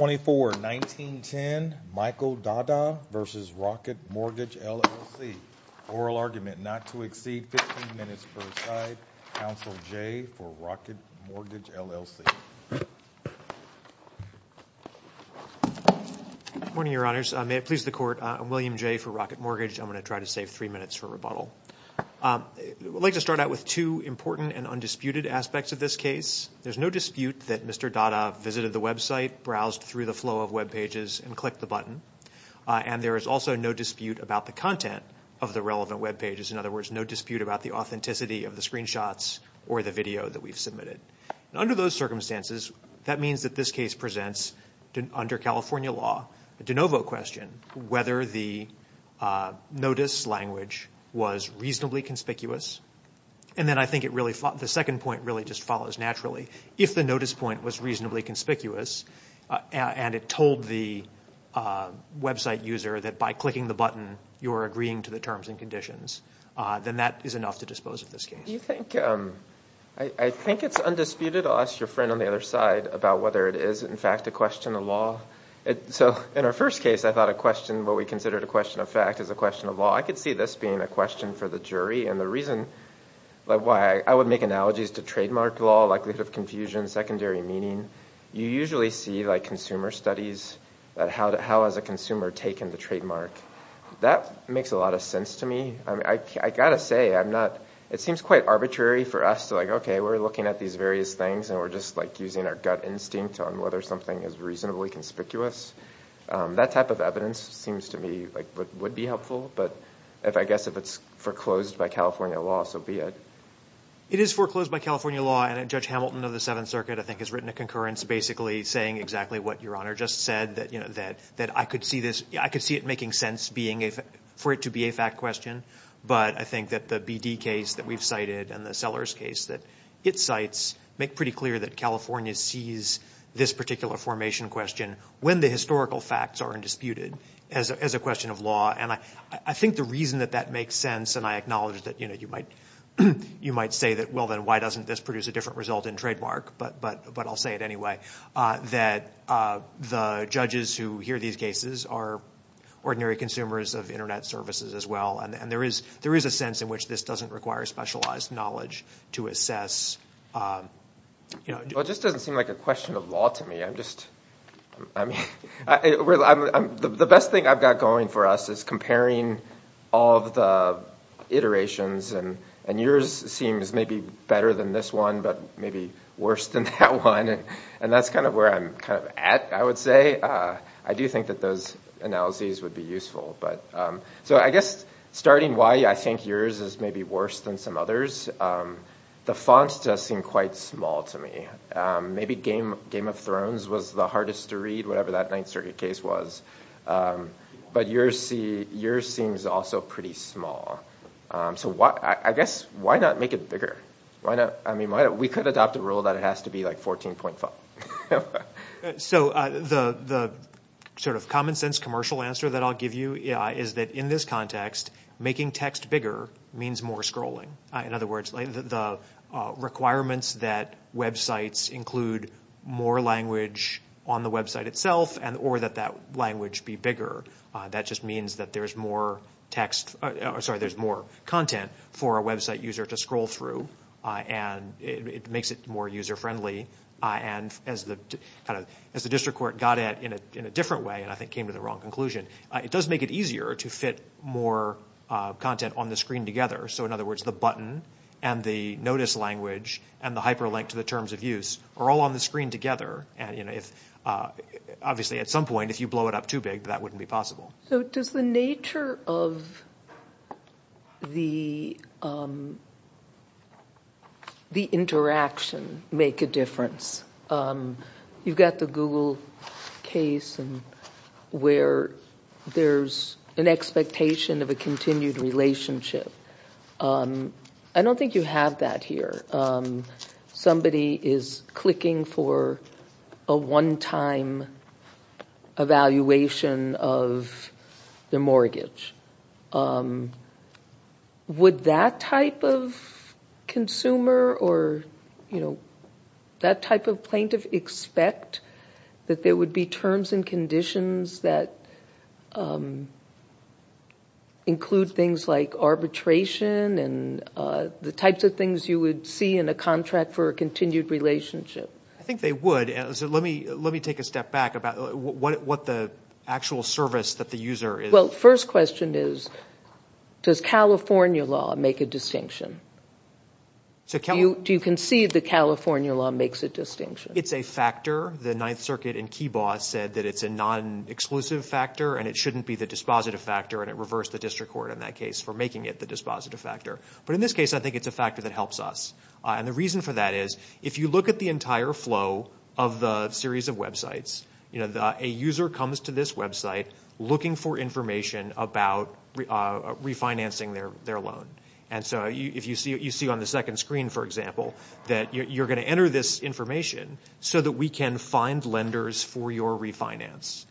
24-19-10 Michael Dahdah v. Rocket Mortgage LLC Oral Argument Not to Exceed 15 Minutes Per Slide Counsel Jay for Rocket Mortgage, LLC Good morning, Your Honors. May it please the Court, I'm William Jay for Rocket Mortgage. I'm going to try to save three minutes for rebuttal. I'd like to start out with two important and undisputed aspects of this case. There's no dispute that Mr. Dahdah visited the website, browsed through the flow of webpages, and clicked the button. And there is also no dispute about the content of the relevant webpages. In other words, no dispute about the authenticity of the screenshots or the video that we've submitted. Under those circumstances, that means that this case presents, under California law, a de novo question, whether the notice language was reasonably conspicuous. And then I think the second point really just follows naturally. If the notice point was reasonably conspicuous and it told the website user that by clicking the button, you're agreeing to the terms and conditions, then that is enough to dispose of this case. I think it's undisputed. I'll ask your friend on the other side about whether it is, in fact, a question of law. So in our first case, I thought a question, what we considered a question of fact, is a question of law. I could see this being a question for the jury. And the reason why I would make analogies to trademark law, likelihood of confusion, secondary meaning, you usually see consumer studies, how has a consumer taken the trademark. That makes a lot of sense to me. I've got to say, it seems quite arbitrary for us to like, OK, we're looking at these various things, and we're just using our gut instinct on whether something is reasonably conspicuous. That type of evidence seems to me would be helpful. But I guess if it's foreclosed by California law, so be it. It is foreclosed by California law. And Judge Hamilton of the Seventh Circuit, I think, has written a concurrence basically saying exactly what Your Honor just said, that I could see it making sense for it to be a fact question. But I think that the BD case that we've cited and the Sellers case that it cites make pretty clear that California sees this particular formation question when the historical facts are undisputed as a question of law. And I think the reason that that makes sense, and I acknowledge that you might say that, well, then why doesn't this produce a different result in trademark? But I'll say it anyway, that the judges who hear these cases are ordinary consumers of internet services as well. And there is a sense in which this doesn't require specialized knowledge to assess. Well, it just doesn't seem like a question of law to me. The best thing I've got going for us is comparing all of the iterations. And yours seems maybe better than this one, but maybe worse than that one. And that's kind of where I'm kind of at, I would say. I do think that those analyses would be useful. So I guess starting why I think yours is maybe worse than some others, the fonts does seem quite small to me. Maybe Game of Thrones was the hardest to read, whatever that Ninth Circuit case was. But yours seems also pretty small. So I guess, why not make it bigger? I mean, we could adopt a rule that it has to be like 14 point font. So the sort of common sense commercial answer that I'll give you is that in this context, making text bigger means more scrolling. In other words, the requirements that websites include more language on the website itself, or that that language be bigger, that just means that there's more content for a website user to scroll through. And it makes it more user friendly. And as the district court got at in a different way, and I think came to the wrong conclusion, it does make it easier to fit more content on the screen together. So in other words, the button and the notice language and the hyperlink to the terms of use are all on the screen together. Obviously, at some point, if you blow it up too big, that wouldn't be possible. So does the nature of the interaction make a difference? You've got the Google case and where there's an expectation of a continued relationship. I don't think you have that here. Somebody is clicking for a one-time evaluation of the mortgage. Would that type of consumer or you know, that type of plaintiff expect that there would be terms and conditions that include things like arbitration and the types of things you would see in a contract for a continued relationship? I think they would. So let me take a step back about what the actual service that the user is. Well, first question is, does California law make a distinction? Do you conceive that California law makes a distinction? It's a factor. The Ninth Circuit in Kibaugh said that it's a non-exclusive factor, and it shouldn't be the dispositive factor, and it reversed the district court in that case for making it the dispositive factor. But in this case, I think it's a factor that helps us. And the reason for that is, if you look at the entire flow of the series of websites, you know, a user comes to this website looking for information about refinancing their loan. And so if you see on the second screen, for example, that you're going to enter this information so that we can find lenders for your refinance.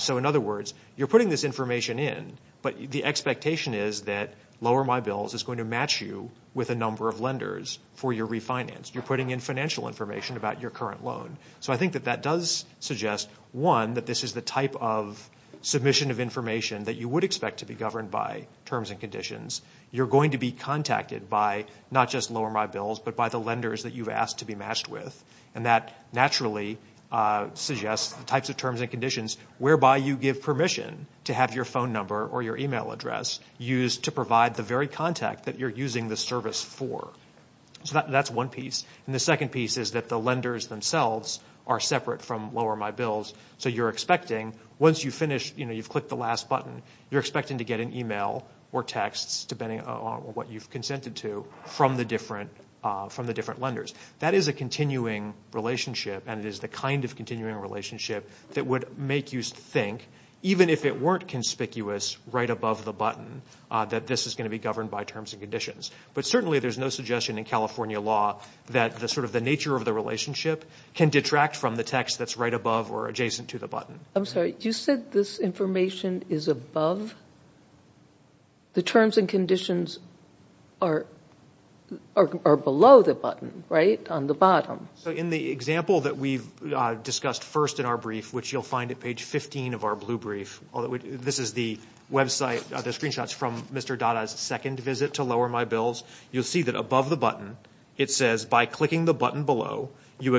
So in other words, you're putting this information in, but the expectation is that Lower My Bills is going to match you with a number of lenders for your refinance. You're putting in financial information about your current loan. So I think that that does suggest, one, that this is the type of submission of information that you would expect to be governed by terms and conditions. You're going to be contacted by not just Lower My Bills, but by the lenders that you've asked to be matched with. And that naturally suggests the types of terms and conditions whereby you give permission to have your phone number or your email address used to provide the very contact that you're using the service for. So that's one piece. And the second piece is that the lenders themselves are separate from Lower My Bills. So you're expecting, once you finish, you know, or texts, depending on what you've consented to, from the different lenders. That is a continuing relationship, and it is the kind of continuing relationship that would make you think, even if it weren't conspicuous, right above the button, that this is going to be governed by terms and conditions. But certainly there's no suggestion in California law that sort of the nature of the relationship can detract from the text that's right above or adjacent to the button. I'm sorry, you said this information is above? The terms and conditions are below the button, right? On the bottom. So in the example that we've discussed first in our brief, which you'll find at page 15 of our blue brief, although this is the website, the screenshots from Mr. Dada's second visit to Lower My Bills, you'll see that above the button, it says, by clicking the button and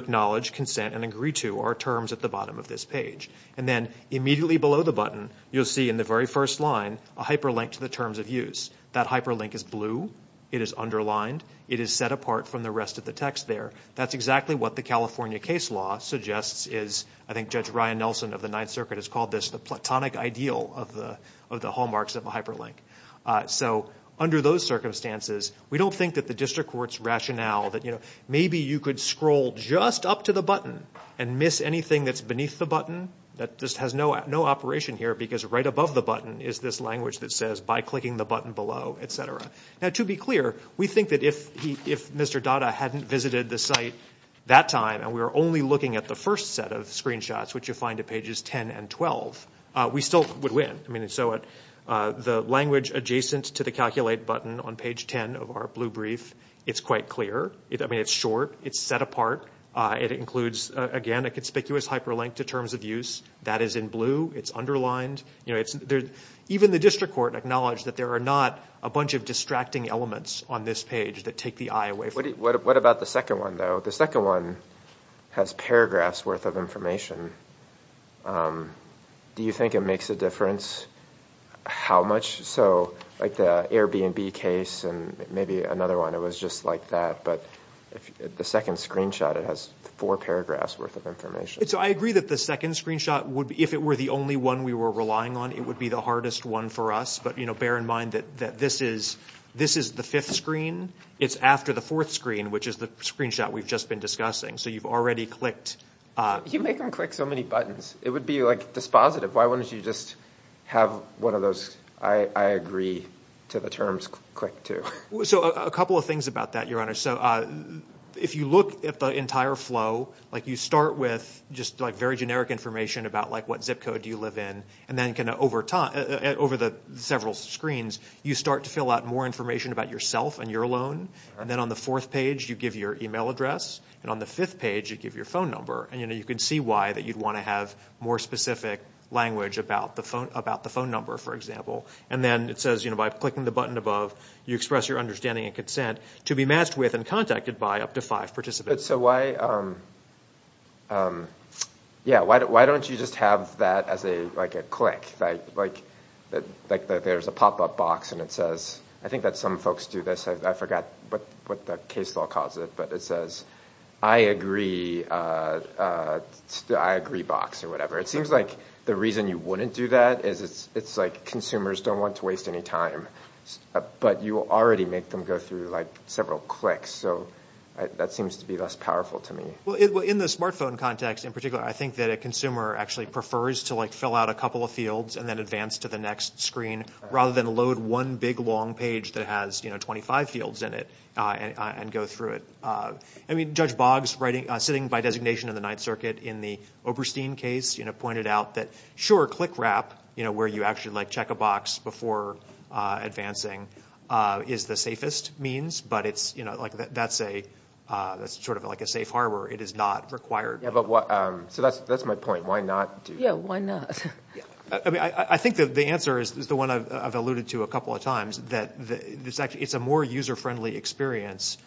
then immediately below the button, you'll see in the very first line, a hyperlink to the terms of use. That hyperlink is blue. It is underlined. It is set apart from the rest of the text there. That's exactly what the California case law suggests is, I think Judge Ryan Nelson of the Ninth Circuit has called this the platonic ideal of the hallmarks of a hyperlink. So under those circumstances, we don't think that the district court's rationale that, you know, maybe you could scroll just up to the button and miss anything that's beneath the button that just has no operation here because right above the button is this language that says, by clicking the button below, et cetera. Now to be clear, we think that if Mr. Dada hadn't visited the site that time and we were only looking at the first set of screenshots, which you'll find at pages 10 and 12, we still would win. I mean, so the language adjacent to the calculate button on page 10 of our blue brief, it's quite clear. I mean, it's short. It's set apart. It includes, again, a conspicuous hyperlink to terms of use. That is in blue. It's underlined. Even the district court acknowledged that there are not a bunch of distracting elements on this page that take the eye away from it. What about the second one, though? The second one has paragraphs worth of information. Do you think it makes a difference how much? So like the Airbnb case and maybe another one, it was just like that. But the second screenshot, it has four paragraphs worth of information. So I agree that the second screenshot, if it were the only one we were relying on, it would be the hardest one for us. But bear in mind that this is the fifth screen. It's after the fourth screen, which is the screenshot we've just been discussing. So you've already clicked. You make them click so many buttons. It would be like dispositive. Why A couple of things about that, Your Honor. So if you look at the entire flow, you start with just very generic information about what zip code you live in. And then over the several screens, you start to fill out more information about yourself and your loan. And then on the fourth page, you give your email address. And on the fifth page, you give your phone number. And you can see why that you'd want to have more specific language about the phone number, for example. And then it says, by clicking the button above, you express your understanding and consent to be matched with and contacted by up to five participants. So why don't you just have that as a click? Like there's a pop-up box and it says, I think that some folks do this. I forgot what the case law calls it. But it says, I agree box or whatever. It seems like the reason you wouldn't do that is it's like consumers don't want to waste any time. But you already make them go through several clicks. So that seems to be less powerful to me. Well, in the smartphone context in particular, I think that a consumer actually prefers to fill out a couple of fields and then advance to the next screen rather than load one big long page that has 25 fields in it and go through it. I mean, Judge Boggs, sitting by designation in the Ninth Circuit in the Oberstein case, pointed out that, sure, click wrap, where you actually check a box before advancing, is the safest means. But that's sort of like a safe harbor. It is not required. So that's my point. Why not? Yeah, why not? I think the answer is the one I've alluded to a couple of times, that it's a more user-friendly experience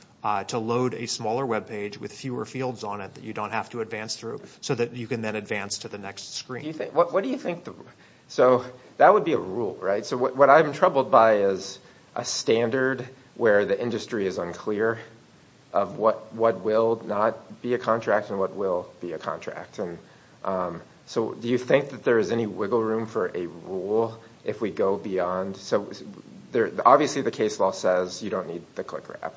to load a smaller web page with fewer fields on it that you don't have to advance through so that you can then advance to the next screen. So that would be a rule, right? So what I'm troubled by is a standard where the industry is unclear of what will not be a contract and what will be a contract. And so do you think that there is any wiggle room for a rule if we go beyond? So obviously, the case law says you don't need the click wrap.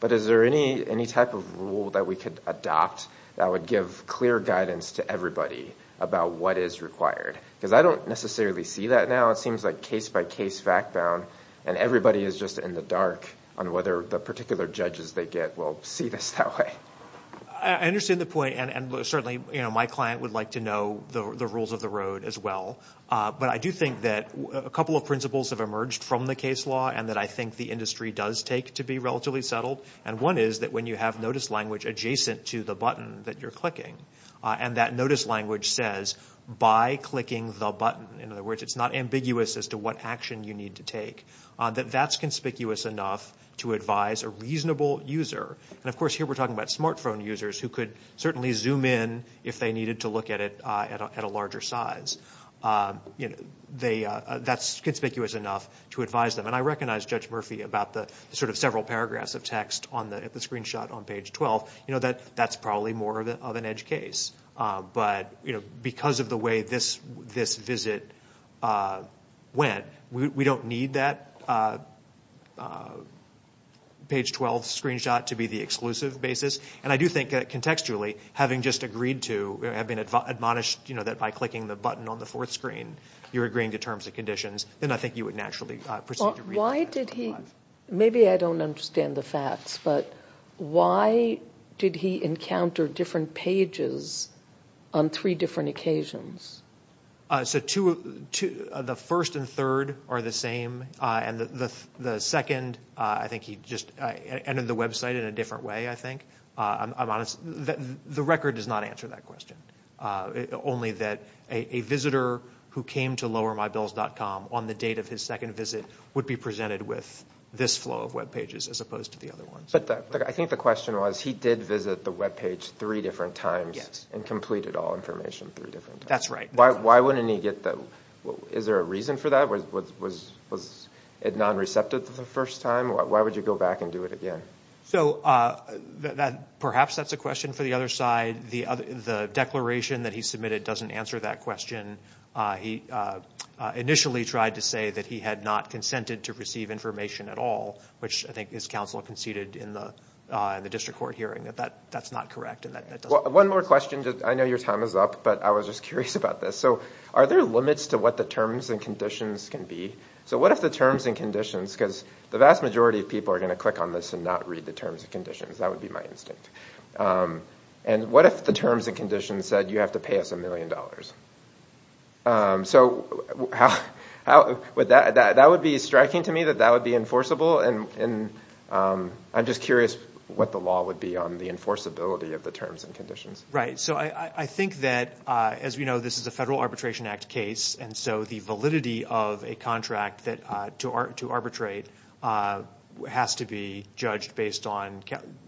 But is there any type of rule that we could adopt that would give clear guidance to everybody about what is required? Because I don't necessarily see that now. It seems like case-by-case, fact-bound, and everybody is just in the dark on whether the particular judges they get will see this that way. I understand the point. And certainly, my client would like to know the rules of the road as well. But I do think that a couple of principles have emerged from the case law and that I think the does take to be relatively settled. And one is that when you have notice language adjacent to the button that you're clicking, and that notice language says, by clicking the button, in other words, it's not ambiguous as to what action you need to take, that that's conspicuous enough to advise a reasonable user. And of course, here we're talking about smartphone users who could certainly zoom in if they needed to look at it at a larger size. That's conspicuous enough to advise them. And I recognize Judge Murphy about the several paragraphs of text at the screenshot on page 12. That's probably more of an edge case. But because of the way this visit went, we don't need that page 12 screenshot to be the exclusive basis. And I do think contextually, having just agreed to, have been admonished that by clicking the button on the page 12. Maybe I don't understand the facts. But why did he encounter different pages on three different occasions? So the first and third are the same. And the second, I think he just ended the website in a different way, I think. I'm honest. The record does not answer that question. Only that a visitor who came to lowermybills.com on the date of his second visit would be presented with this flow of web pages as opposed to the other ones. But I think the question was, he did visit the web page three different times. Yes. And completed all information three different times. That's right. Why wouldn't he get that? Is there a reason for that? Was it non-receptive the first time? Why would you go back and do it again? So perhaps that's a question for the other side. The declaration that he submitted doesn't answer that question. He initially tried to say that he had not consented to receive information at all, which I think his counsel conceded in the district court hearing that that's not correct. One more question. I know your time is up, but I was just curious about this. So are there limits to what the terms and conditions can be? So what if the terms and conditions, because the vast majority of people are going to click on this and not read the terms and conditions. That would be my instinct. And what if the terms and conditions said you have to pay us a million dollars? So that would be striking to me that that would be enforceable. And I'm just curious what the law would be on the enforceability of the terms and conditions. Right. So I think that, as we know, this is a Federal Arbitration Act case. And so the validity of a contract to arbitrate has to be judged based on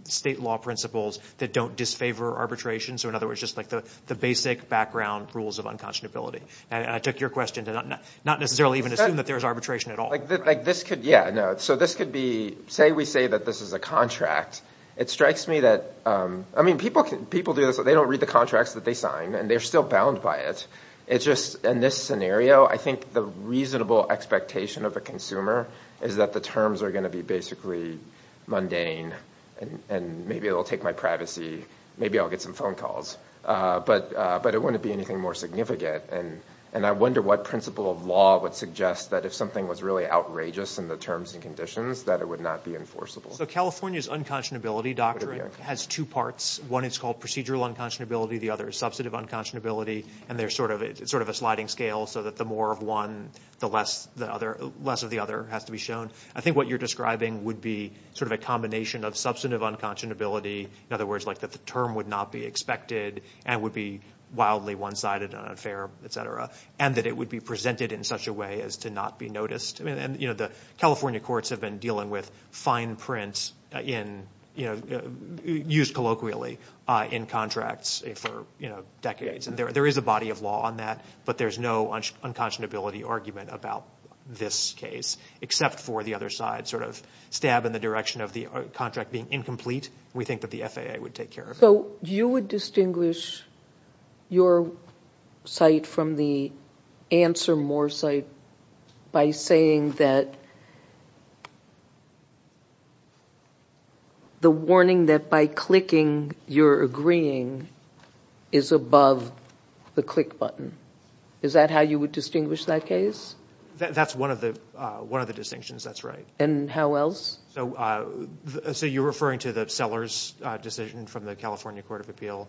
state law principles that don't disfavor arbitration. So in other words, just like the basic background rules of unconscionability. And I took your question to not necessarily even assume that there's arbitration at all. Yeah, no. So this could be, say we say that this is a contract. It strikes me that, I mean, people do this. They don't read the contracts that they sign, and they're still bound by it. It's just in this scenario, I think the reasonable expectation of a consumer is that the terms are going to be basically mundane. And maybe it'll take my privacy. Maybe I'll get some phone calls. But it wouldn't be anything more significant. And I wonder what principle of law would suggest that if something was really outrageous in the terms and conditions that it would not be enforceable. So California's unconscionability doctrine has two parts. One is called procedural unconscionability. The other is substantive unconscionability. And there's sort of a sliding scale so that the more of one, the less of the other has to be shown. I think what you're describing would be sort of a combination of substantive unconscionability. In other words, like that the term would not be expected and would be wildly one-sided and unfair, et cetera. And that it would be presented in such a way as to not be noticed. And the California courts have been dealing with fine prints used colloquially in contracts for decades. And there is a body of law on that. But there's no unconscionability argument about this case except for the other side sort of stab in the direction of the contract being incomplete. We think that the FAA would take care of it. So you would distinguish your site from the answer more site by saying that the warning that by clicking you're agreeing is above the click button. Is that how you would distinguish that case? That's one of the distinctions. That's right. And how else? So you're referring to the decision from the California Court of Appeal.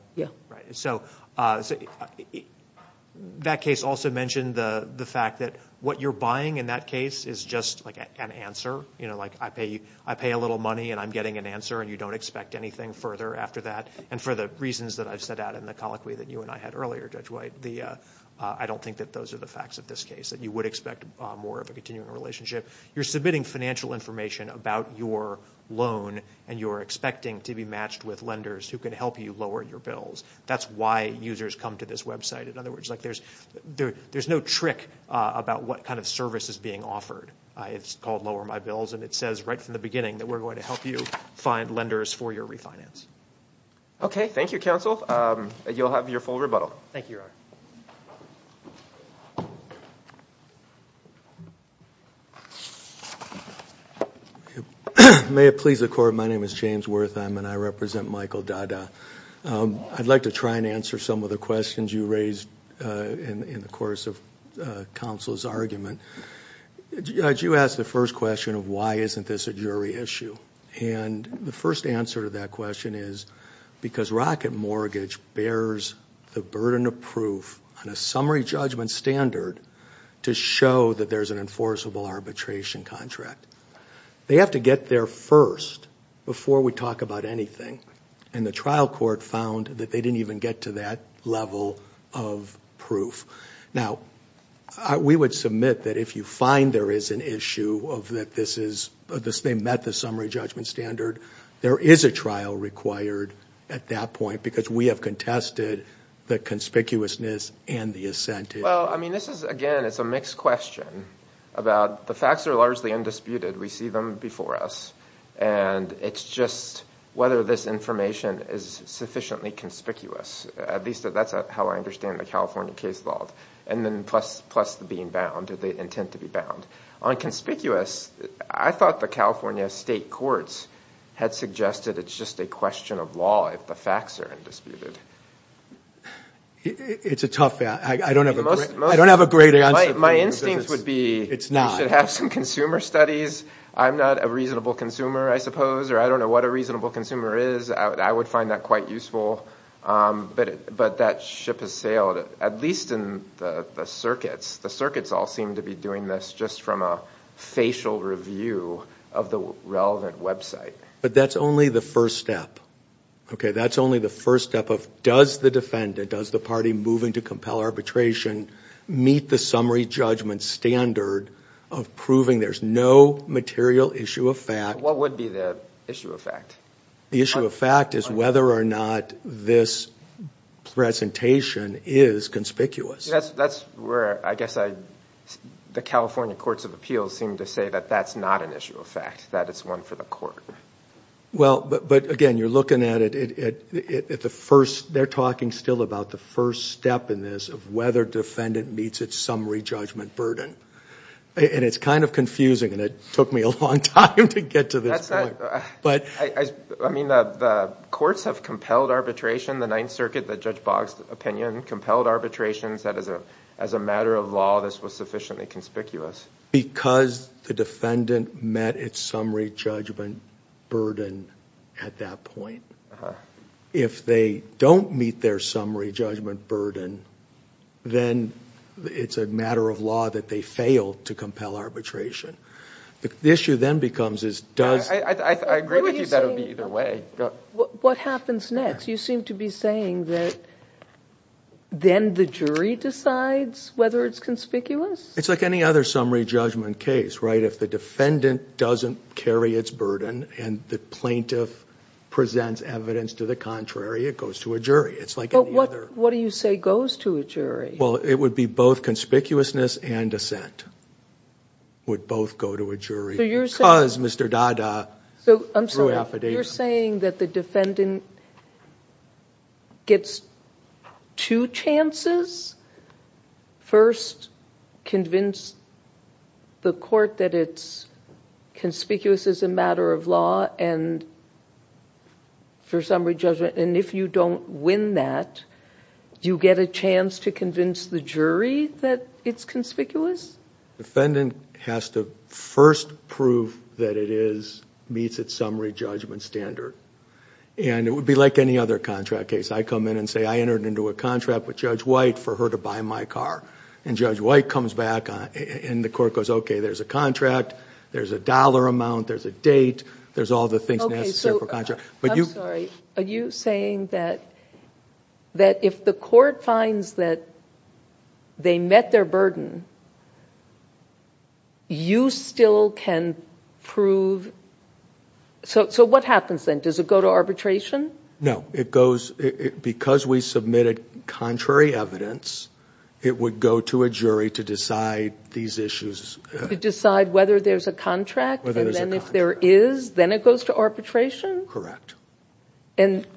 That case also mentioned the fact that what you're buying in that case is just an answer. I pay a little money and I'm getting an answer and you don't expect anything further after that. And for the reasons that I've set out in the colloquy that you and I had earlier, Judge White, I don't think that those are the facts of this case. That you would expect more of a continuing relationship. You're submitting financial information about your loan and you're expecting to be matched with lenders who can help you lower your bills. That's why users come to this website. In other words, there's no trick about what kind of service is being offered. It's called lower my bills and it says right from the beginning that we're going to help you find lenders for your refinance. Okay. Thank you, counsel. You'll have your full rebuttal. Thank you, Your Honor. May it please the Court, my name is James Wertheim and I represent Michael Dada. I'd like to try and answer some of the questions you raised in the course of counsel's argument. I do ask the first question of why isn't this a jury issue? And the first answer to that question is because Rocket Mortgage bears the burden of proof on a summary judgment standard to show that there's an enforceable arbitration contract. They have to get there first before we talk about anything. And the trial court found that they didn't even get to that level of proof. Now, we would submit that if you find there is an issue of that this is, they met the summary judgment standard. There is a trial required at that point because we have contested the conspicuousness and the assent. Well, I mean, this is again, it's a mixed question about the facts are largely undisputed. We see them before us and it's just whether this information is sufficiently conspicuous. At least that's how I understand the California case law and then plus the being bound or the intent to be bound. On conspicuous, I thought the California state courts had suggested it's just a question of law if the facts are undisputed. It's a tough, I don't have a great answer. My instincts would be, it's not, you should have some consumer studies. I'm not a reasonable consumer, I suppose, or I don't know what a reasonable consumer is. I would find that quite useful, but that ship has sailed, at least in the circuits. The circuits all seem to be doing this just from a facial review of the relevant website. But that's only the first step. Okay, that's only the first step of does the defendant, does the party moving to compel arbitration, meet the summary judgment standard of proving there's no material issue of fact. What would be the issue of fact? The issue of fact is whether or not this presentation is conspicuous. That's where I guess I, the California courts of appeals seem to say that that's not an issue of fact, that it's one for the court. Well, but again, you're looking at it, at the first, they're talking still about the first step in this of whether defendant meets its summary judgment burden. And it's kind of confusing and it took me a long time to get to this point. I mean, the courts have compelled arbitration, the Ninth Circuit, the Judge Boggs' opinion, compelled arbitration, said as a matter of law, this was sufficiently conspicuous. Because the defendant met its summary judgment burden at that point. If they don't meet their summary judgment burden, then it's a matter of law that they failed to compel arbitration. The issue then becomes is, does... I agree with you that it would be either way. What happens next? You seem to be saying that then the jury decides whether it's conspicuous? It's like any other summary judgment case, right? If the defendant doesn't carry its burden and the plaintiff presents evidence to the contrary, it goes to a jury. It's both conspicuousness and dissent. It would both go to a jury because Mr. Dada threw affidavit. You're saying that the defendant gets two chances? First, convince the court that it's conspicuous as a matter of law and for summary judgment. And if you don't win that, do you get a chance to convince the jury that it's conspicuous? The defendant has to first prove that it meets its summary judgment standard. And it would be like any other contract case. I come in and say, I entered into a contract with Judge White for her to buy my car. And Judge White comes back and the court goes, okay, there's a contract, there's a dollar amount, there's a date, there's the things necessary for a contract. I'm sorry, are you saying that if the court finds that they met their burden, you still can prove? So what happens then? Does it go to arbitration? No. Because we submitted contrary evidence, it would go to a jury to decide these issues. If there is, then it goes to arbitration? Correct. And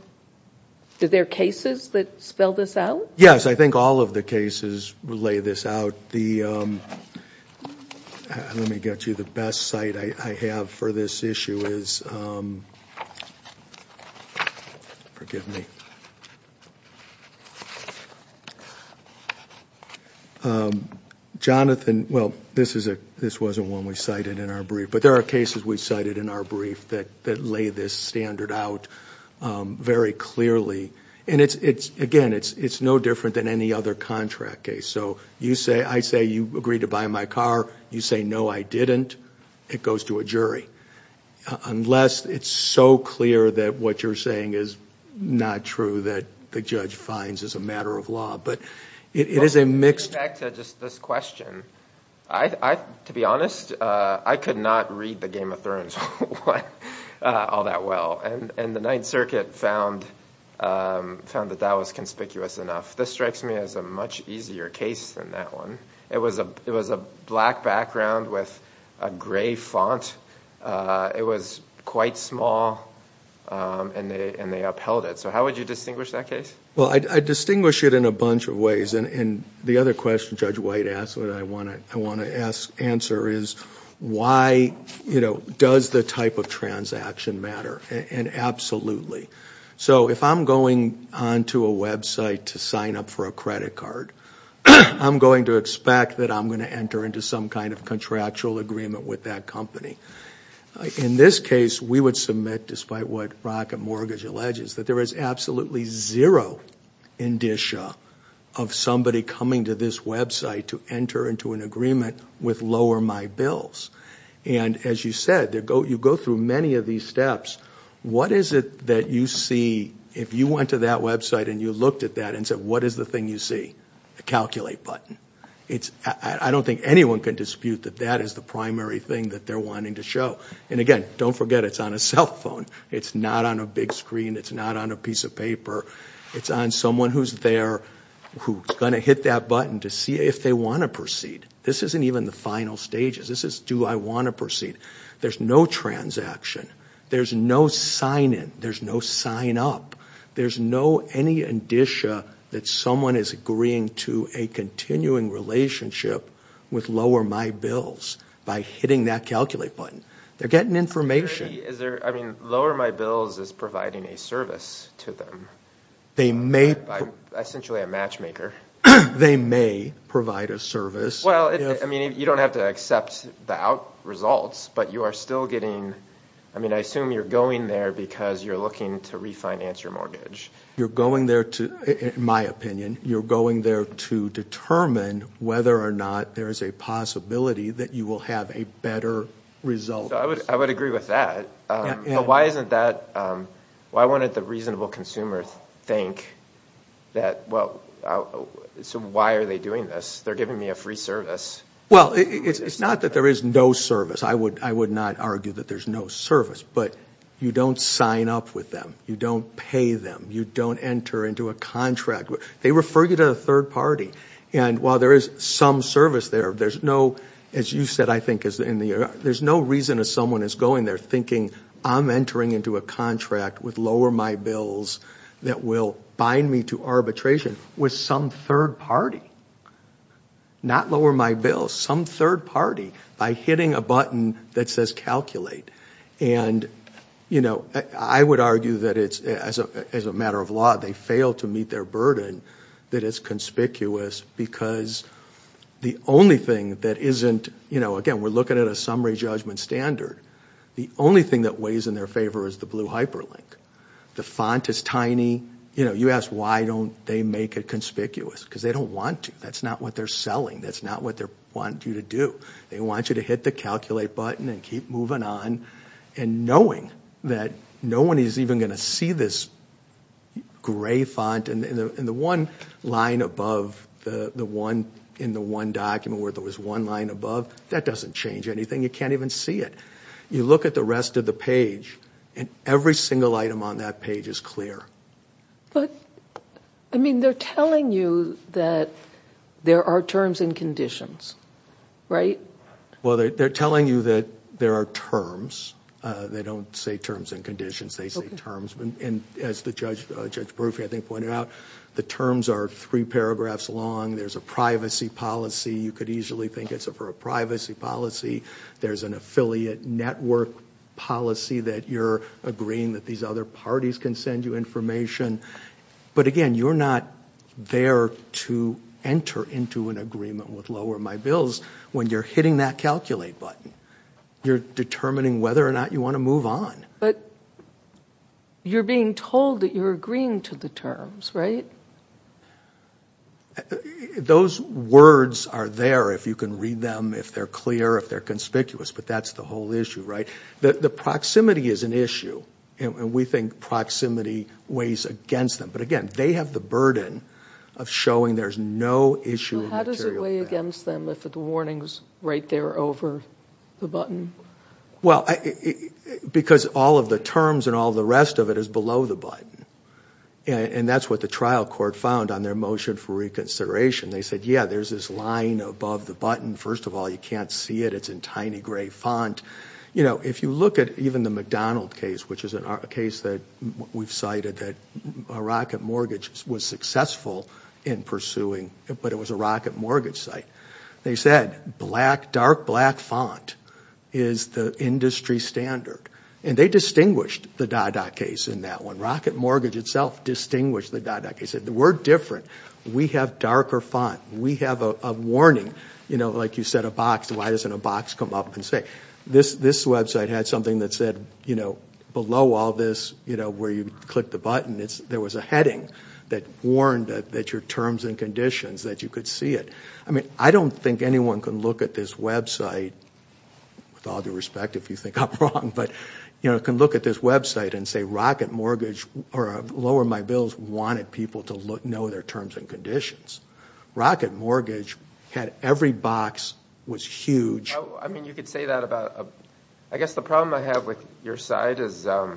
are there cases that spell this out? Yes, I think all of the cases lay this out. Let me get you the best site I have for this issue. This wasn't one we cited in our brief, but there are cases we cited in our brief that lay this standard out very clearly. And again, it's no different than any other contract case. I say, you agreed to buy my car. You say, no, I didn't. It goes to a jury. Unless it's so clear that what you're saying is not true that the judge finds as a matter of law. But it is a mixed- Getting back to just this question, to be honest, I could not read the Game of Thrones all that well. And the Ninth Circuit found that that was conspicuous enough. This strikes me as a much easier case than that one. It was a black background with a gray font. It was quite small, and they upheld it. So how would you distinguish that case? Well, I'd distinguish it in a bunch of ways. And the other question Judge White asked that I want to answer is, why does the type of transaction matter? And absolutely. So if I'm going onto a website to sign up for a credit card, I'm going to expect that I'm going to enter into some kind of contractual agreement with that company. In this case, we would submit, despite what Rocket Mortgage alleges, that there is absolutely zero indicia of somebody coming to this website to enter into an agreement with Lower My Bills. And as you said, you go through many of these steps. What is it that you see, if you went to that website and you looked at that and said, what is the thing you see? A calculate button. I don't think anyone can dispute that that is the primary thing that they're wanting to show. And again, don't forget, it's on a cell phone. It's not on a big screen. It's not on a piece of paper. It's on someone who's there who's going to hit that button to see if they want to proceed. This isn't even the final stages. This is, I want to proceed. There's no transaction. There's no sign in. There's no sign up. There's no any indicia that someone is agreeing to a continuing relationship with Lower My Bills by hitting that calculate button. They're getting information. Is there, I mean, Lower My Bills is providing a service to them. They may. Essentially a matchmaker. They may provide a service. I mean, you don't have to accept the out results, but you are still getting, I mean, I assume you're going there because you're looking to refinance your mortgage. You're going there to, in my opinion, you're going there to determine whether or not there is a possibility that you will have a better result. I would agree with that. Why isn't that, why wouldn't the reasonable consumer think that, well, so why are they doing this? They're giving me a free service. Well, it's not that there is no service. I would not argue that there's no service, but you don't sign up with them. You don't pay them. You don't enter into a contract. They refer you to a third party. And while there is some service there, there's no, as you said, I think is in the, there's no reason that someone is going there thinking I'm entering into a contract with lower my bills that will bind me to arbitration with some third party, not lower my bills, some third party by hitting a button that says calculate. And, you know, I would argue that it's, as a matter of law, they fail to meet their burden, that it's conspicuous because the only thing that isn't, you know, again, we're looking at summary judgment standard. The only thing that weighs in their favor is the blue hyperlink. The font is tiny. You know, you ask why don't they make it conspicuous? Because they don't want to. That's not what they're selling. That's not what they want you to do. They want you to hit the calculate button and keep moving on. And knowing that no one is even going to see this gray font and the one line above the one in the one document where there was one line above, that doesn't change anything. You can't even see it. You look at the rest of the page and every single item on that page is clear. But, I mean, they're telling you that there are terms and conditions, right? Well, they're telling you that there are terms. They don't say terms and conditions. They say terms. And as the judge, Judge Bruffy, I think pointed out, the terms are three paragraphs long. There's a privacy policy. You could easily think it's for a privacy policy. There's an affiliate network policy that you're agreeing that these other parties can send you information. But again, you're not there to enter into an agreement with Lower My Bills when you're hitting that calculate button. You're determining whether or not you want to move on. But you're being told that you're agreeing to the terms, right? Those words are there if you can read them, if they're clear, if they're conspicuous, but that's the whole issue, right? The proximity is an issue. And we think proximity weighs against them. But again, they have the burden of showing there's no issue. So how does it weigh against them if the warning's right there over the button? Well, because all of the terms and all the rest of it is below the button. And that's what the trial court found on their motion for reconsideration. They said, yeah, there's this line above the button. First of all, you can't see it. It's in tiny gray font. If you look at even the McDonald case, which is a case that we've cited that a rocket mortgage was successful in pursuing, but it was a rocket mortgage site. They said, dark black font is the industry standard. And they distinguished the Dada case in that one. Rocket mortgage itself distinguished the Dada case. They said, we're different. We have darker font. We have a warning. Like you said, a box. Why doesn't a box come up and say? This website had something that said, below all this where you click the button, there was a heading that warned that your terms and conditions, that you could see it. I don't think anyone can look at this website, with all due respect, if you think I'm wrong, but can look at this website and say, rocket mortgage, or lower my bills, wanted people to know their terms and conditions. Rocket mortgage had every box was huge. I mean, you could say that about... I guess the problem I have with your side is there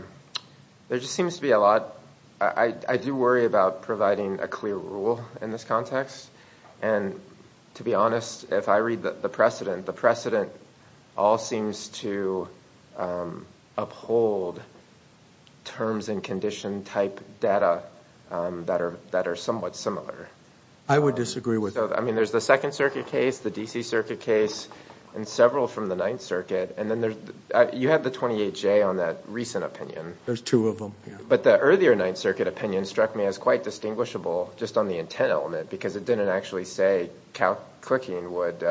just seems to be a lot... I do worry about providing a clear rule in this context. And to be honest, if I read the precedent, the precedent all seems to uphold terms and condition type data that are somewhat similar. I would disagree with that. I mean, there's the Second Circuit case, the DC Circuit case, and several from the Ninth Circuit. And then you had the 28J on that recent opinion. There's two of them. But the earlier Ninth Circuit opinion struck me as quite distinguishable, just on the intent element, because it didn't actually say clicking would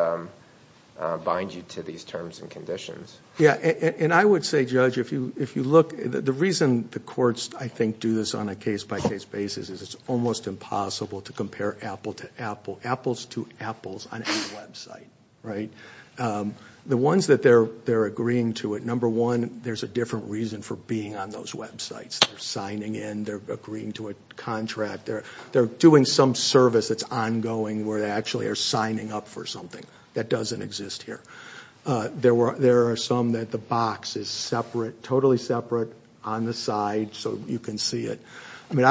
bind you to these terms and conditions. Yeah. And I would say, Judge, if you look... The reason the courts, I think, do this on a case-by-case basis is it's almost impossible to compare apples to apples on any website, right? The ones that they're agreeing to it, number one, there's a different reason for being on those websites. They're signing in. They're agreeing to a contract. They're doing some service that's ongoing where they actually are signing up for something that doesn't exist here. There are some that the box is separate, totally separate, on the side, so you can see it. I mean,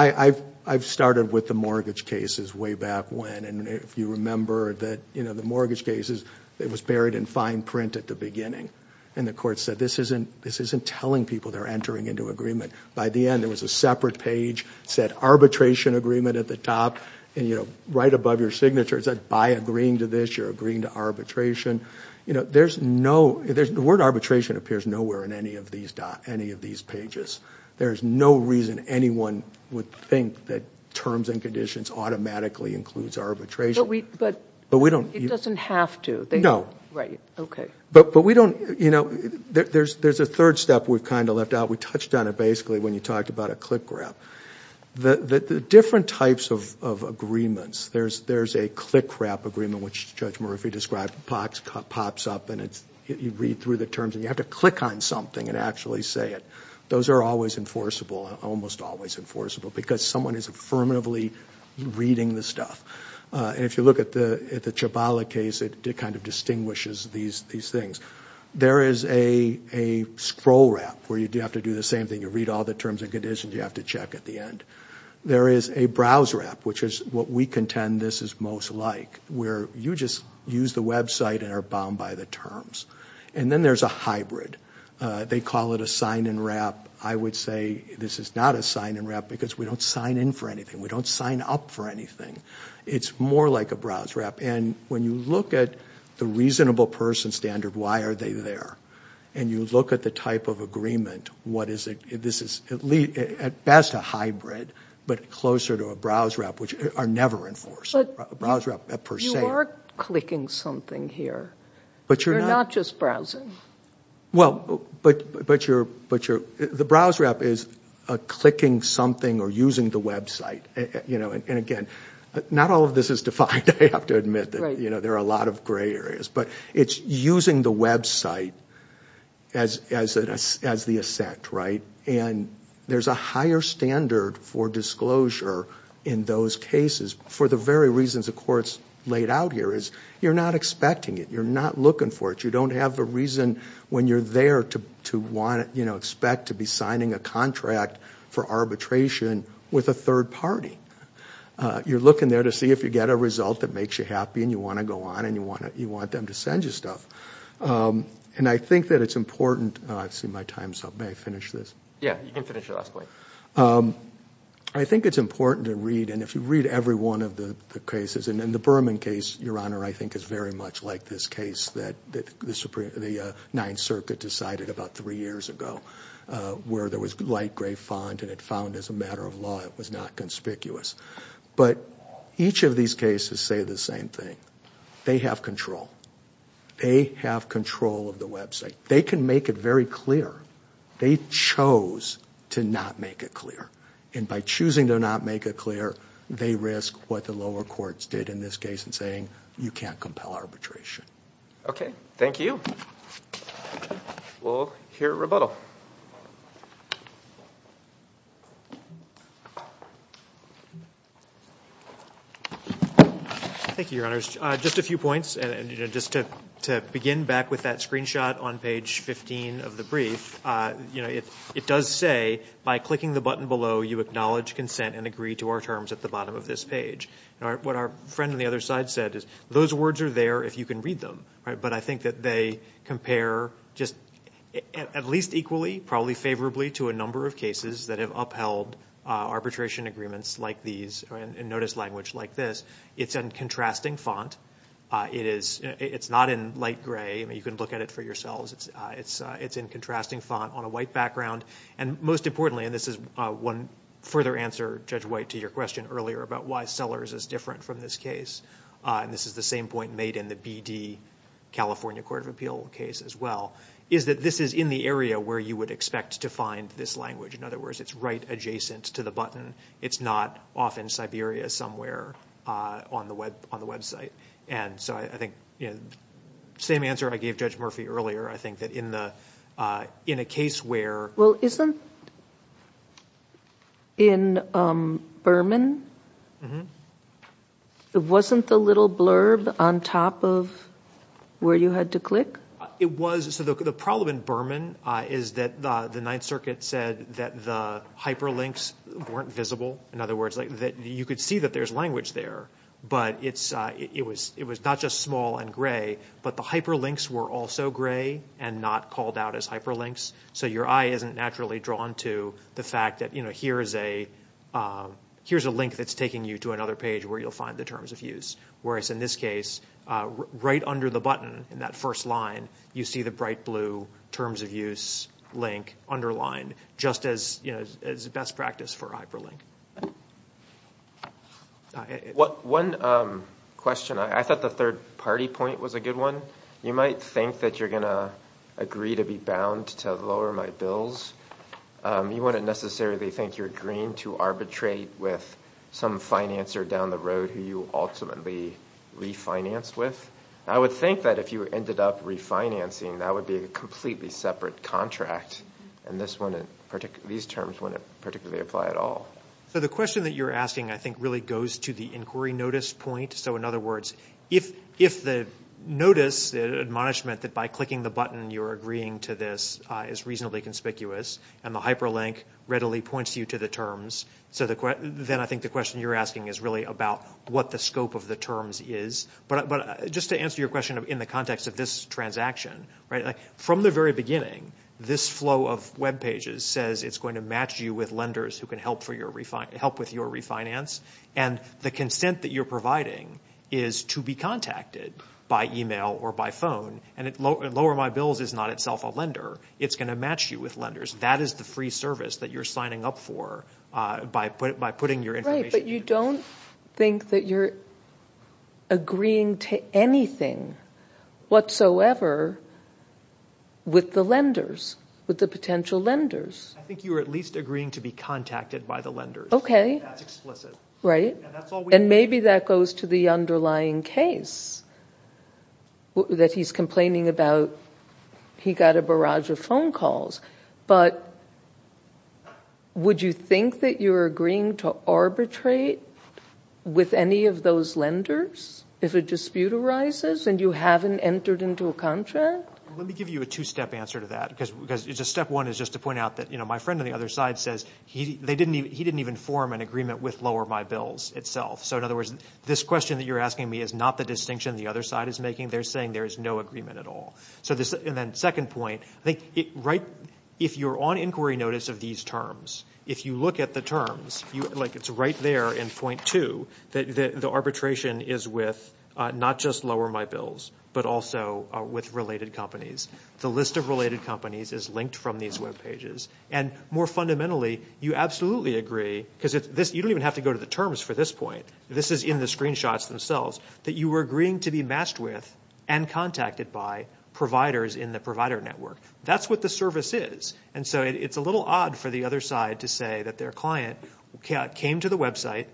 I've started with the mortgage cases way back when. And if you remember that, you know, the mortgage cases, it was buried in fine print at the beginning. And the court said, this isn't telling people they're entering into agreement. By the end, there was a separate page that said arbitration agreement at the top. And, you know, right above your signature, it said, by agreeing to this, you're agreeing to arbitration. You know, there's no... The word arbitration appears nowhere in any of these pages. There's no reason anyone would think that terms and conditions automatically includes arbitration. But we don't... It doesn't have to. No. Right. Okay. But we don't, you know... There's a third step we've kind of left out. We touched on it, basically, when you talked about a click wrap. The different types of agreements, there's a click wrap agreement, which Judge Murphy described, pops up and you read through the terms and you have to click on something and actually say it. Those are always enforceable, almost always enforceable, because someone is affirmatively reading the stuff. And if you look at the Chabala case, it kind of distinguishes these things. There is a scroll wrap, where you have to do the same thing. You read all the terms and conditions, you have to check at the end. There is a browse wrap, which is what we contend this is most like, where you just use the website and are bound by the terms. And then there's a hybrid. They call it a sign-in wrap. I would say this is not a sign-in wrap, because we don't sign in for anything. We don't sign up for anything. It's more like a browse wrap. And when you look at the reasonable person standard, why are they there? And you look at the type of agreement, what is it? This is, at best, a hybrid, but closer to a browse wrap, which are never enforceable. Browse wrap, per se. But you are clicking something here. But you're not. You're not just browsing. Well, but the browse wrap is clicking something or using the website. And again, not all of this is defined. I have to admit that there are a lot of gray areas. But it's using the website as the assent, right? And there's a higher standard for disclosure in those cases, for the very reasons the court's laid out here, is you're not expecting it. You're not looking for it. You don't have a reason when you're there to expect to be signing a contract for arbitration with a third party. You're looking there to see if you get a result that makes you happy, and you want to go on, and you want them to send you stuff. And I think that it's important. Oh, I've seen my time's up. May I finish this? Yeah, you can finish your last point. I think it's important to read, and if you read every one of the cases, and the Berman case, Your Honor, I think is very much like this case that the Ninth Circuit decided about three years ago, where there was light gray font, and it found as a matter of law, it was not conspicuous. But each of these cases say the same thing. They have control. They have control of the website. They can make it very clear. They chose to not make it clear. And by choosing to not make it clear, they risk what the lower courts did, in this case, in saying, you can't compel arbitration. Okay, thank you. We'll hear rebuttal. Thank you, Your Honors. Just a few points. And just to begin back with that screenshot on page 15 of the brief, it does say, by clicking the button below, you acknowledge consent and agree to our terms at the bottom of this page. What our friend on the other side said is, those words are there if you can read them. But I think that they compare just at least equally, probably favorably, to a number of cases that have upheld arbitration agreements like these, in notice language like this. It's in contrasting font. It's not in light gray. You can look at it for yourselves. It's in contrasting font on a white background. And most importantly, and this is one further answer, Judge White, to your question earlier about why Sellers is different from this case. And this is the same point made in the BD California Court of Appeal case as well, is that this is in the area where you would expect to find this language. In other words, it's right adjacent to the button. It's not off in Siberia somewhere on the website. And so I think, same answer I gave Judge Murphy earlier. I think that in a case where- It wasn't in Berman? It wasn't the little blurb on top of where you had to click? So the problem in Berman is that the Ninth Circuit said that the hyperlinks weren't visible. In other words, you could see that there's language there. But it was not just small and gray, but the hyperlinks were also gray and not called out as hyperlinks. So your eye isn't naturally drawn to the fact that here's a link that's taking you to another page where you'll find the terms of use. Whereas in this case, right under the button in that first line, you see the bright blue terms of use link underlined just as best practice for hyperlink. One question. I thought the third party point was a good one. You might think that you're going to agree to be bound to lower my bills. You wouldn't necessarily think you're agreeing to arbitrate with some financer down the road who you ultimately refinanced with. I would think that if you ended up refinancing, that would be a completely separate contract. And these terms wouldn't particularly apply at all. So the question that you're asking, I think, really goes to the inquiry notice point. So in other words, if the notice admonishment that by clicking the button you're agreeing to this is reasonably conspicuous and the hyperlink readily points you to the terms, so then I think the question you're asking is really about what the scope of the terms is. But just to answer your question in the context of this transaction, from the very beginning, this flow of web pages says it's going to match you with lenders who can help with your refinance. And the consent that you're providing is to be contacted by email or by phone. And lower my bills is not itself a lender. It's going to match you with lenders. That is the free service that you're signing up for by putting your information. But you don't think that you're agreeing to anything whatsoever with the lenders, with the potential lenders. I think you are at least agreeing to be contacted by the lenders. Okay. That's explicit. Right. And maybe that goes to the underlying case that he's complaining about. He got a barrage of phone calls. But would you think that you're agreeing to arbitrate with any of those lenders if a dispute arises and you haven't entered into a contract? Let me give you a two-step answer to that. Because step one is just to point out that, you know, he didn't even form an agreement with lower my bills itself. So in other words, this question that you're asking me is not the distinction the other side is making. They're saying there is no agreement at all. So then second point, I think if you're on inquiry notice of these terms, if you look at the terms, like it's right there in point two, that the arbitration is with not just lower my bills, but also with related companies. The list of related companies is linked from these web pages. And more fundamentally, you absolutely agree, because you don't even have to go to the terms for this point, this is in the screenshots themselves, that you were agreeing to be matched with and contacted by providers in the provider network. That's what the service is. And so it's a little odd for the other side to say that their client came to the website,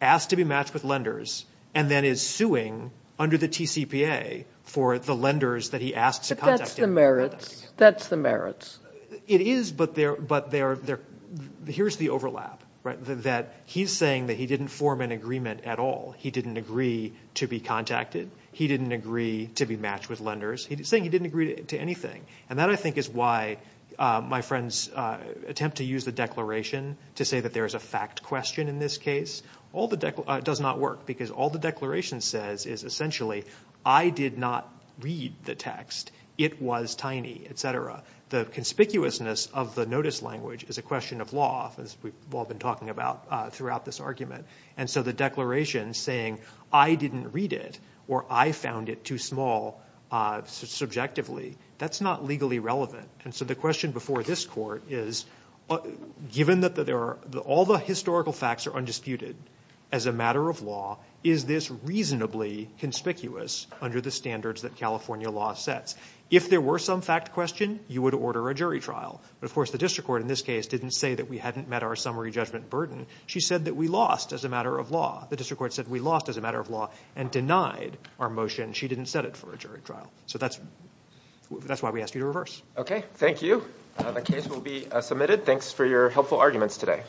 asked to be matched with lenders, and then is suing under the TCPA for the lenders that he asked to contact. But that's the merits. That's the merits. It is, but here's the overlap, right? That he's saying that he didn't form an agreement at all. He didn't agree to be contacted. He didn't agree to be matched with lenders. He's saying he didn't agree to anything. And that, I think, is why my friends attempt to use the declaration to say that there is a fact question in this case. It does not work, because all the declaration says is, essentially, I did not read the text. It was tiny, et cetera. The conspicuousness of the notice language is a question of law, as we've all been talking about throughout this argument. And so the declaration saying, I didn't read it or I found it too small subjectively, that's not legally relevant. And so the question before this court is, given that all the historical facts are undisputed as a matter of law, is this reasonably conspicuous under the standards that California law sets? If there were some fact question, you would order a jury trial. But of course, the district court in this case didn't say that we hadn't met our summary judgment burden. She said that we lost as a matter of law. The district court said we lost as a matter of law and denied our motion. She didn't set it for a jury trial. So that's why we asked you to reverse. Okay. Thank you. The case will be submitted. Thanks for your helpful arguments today.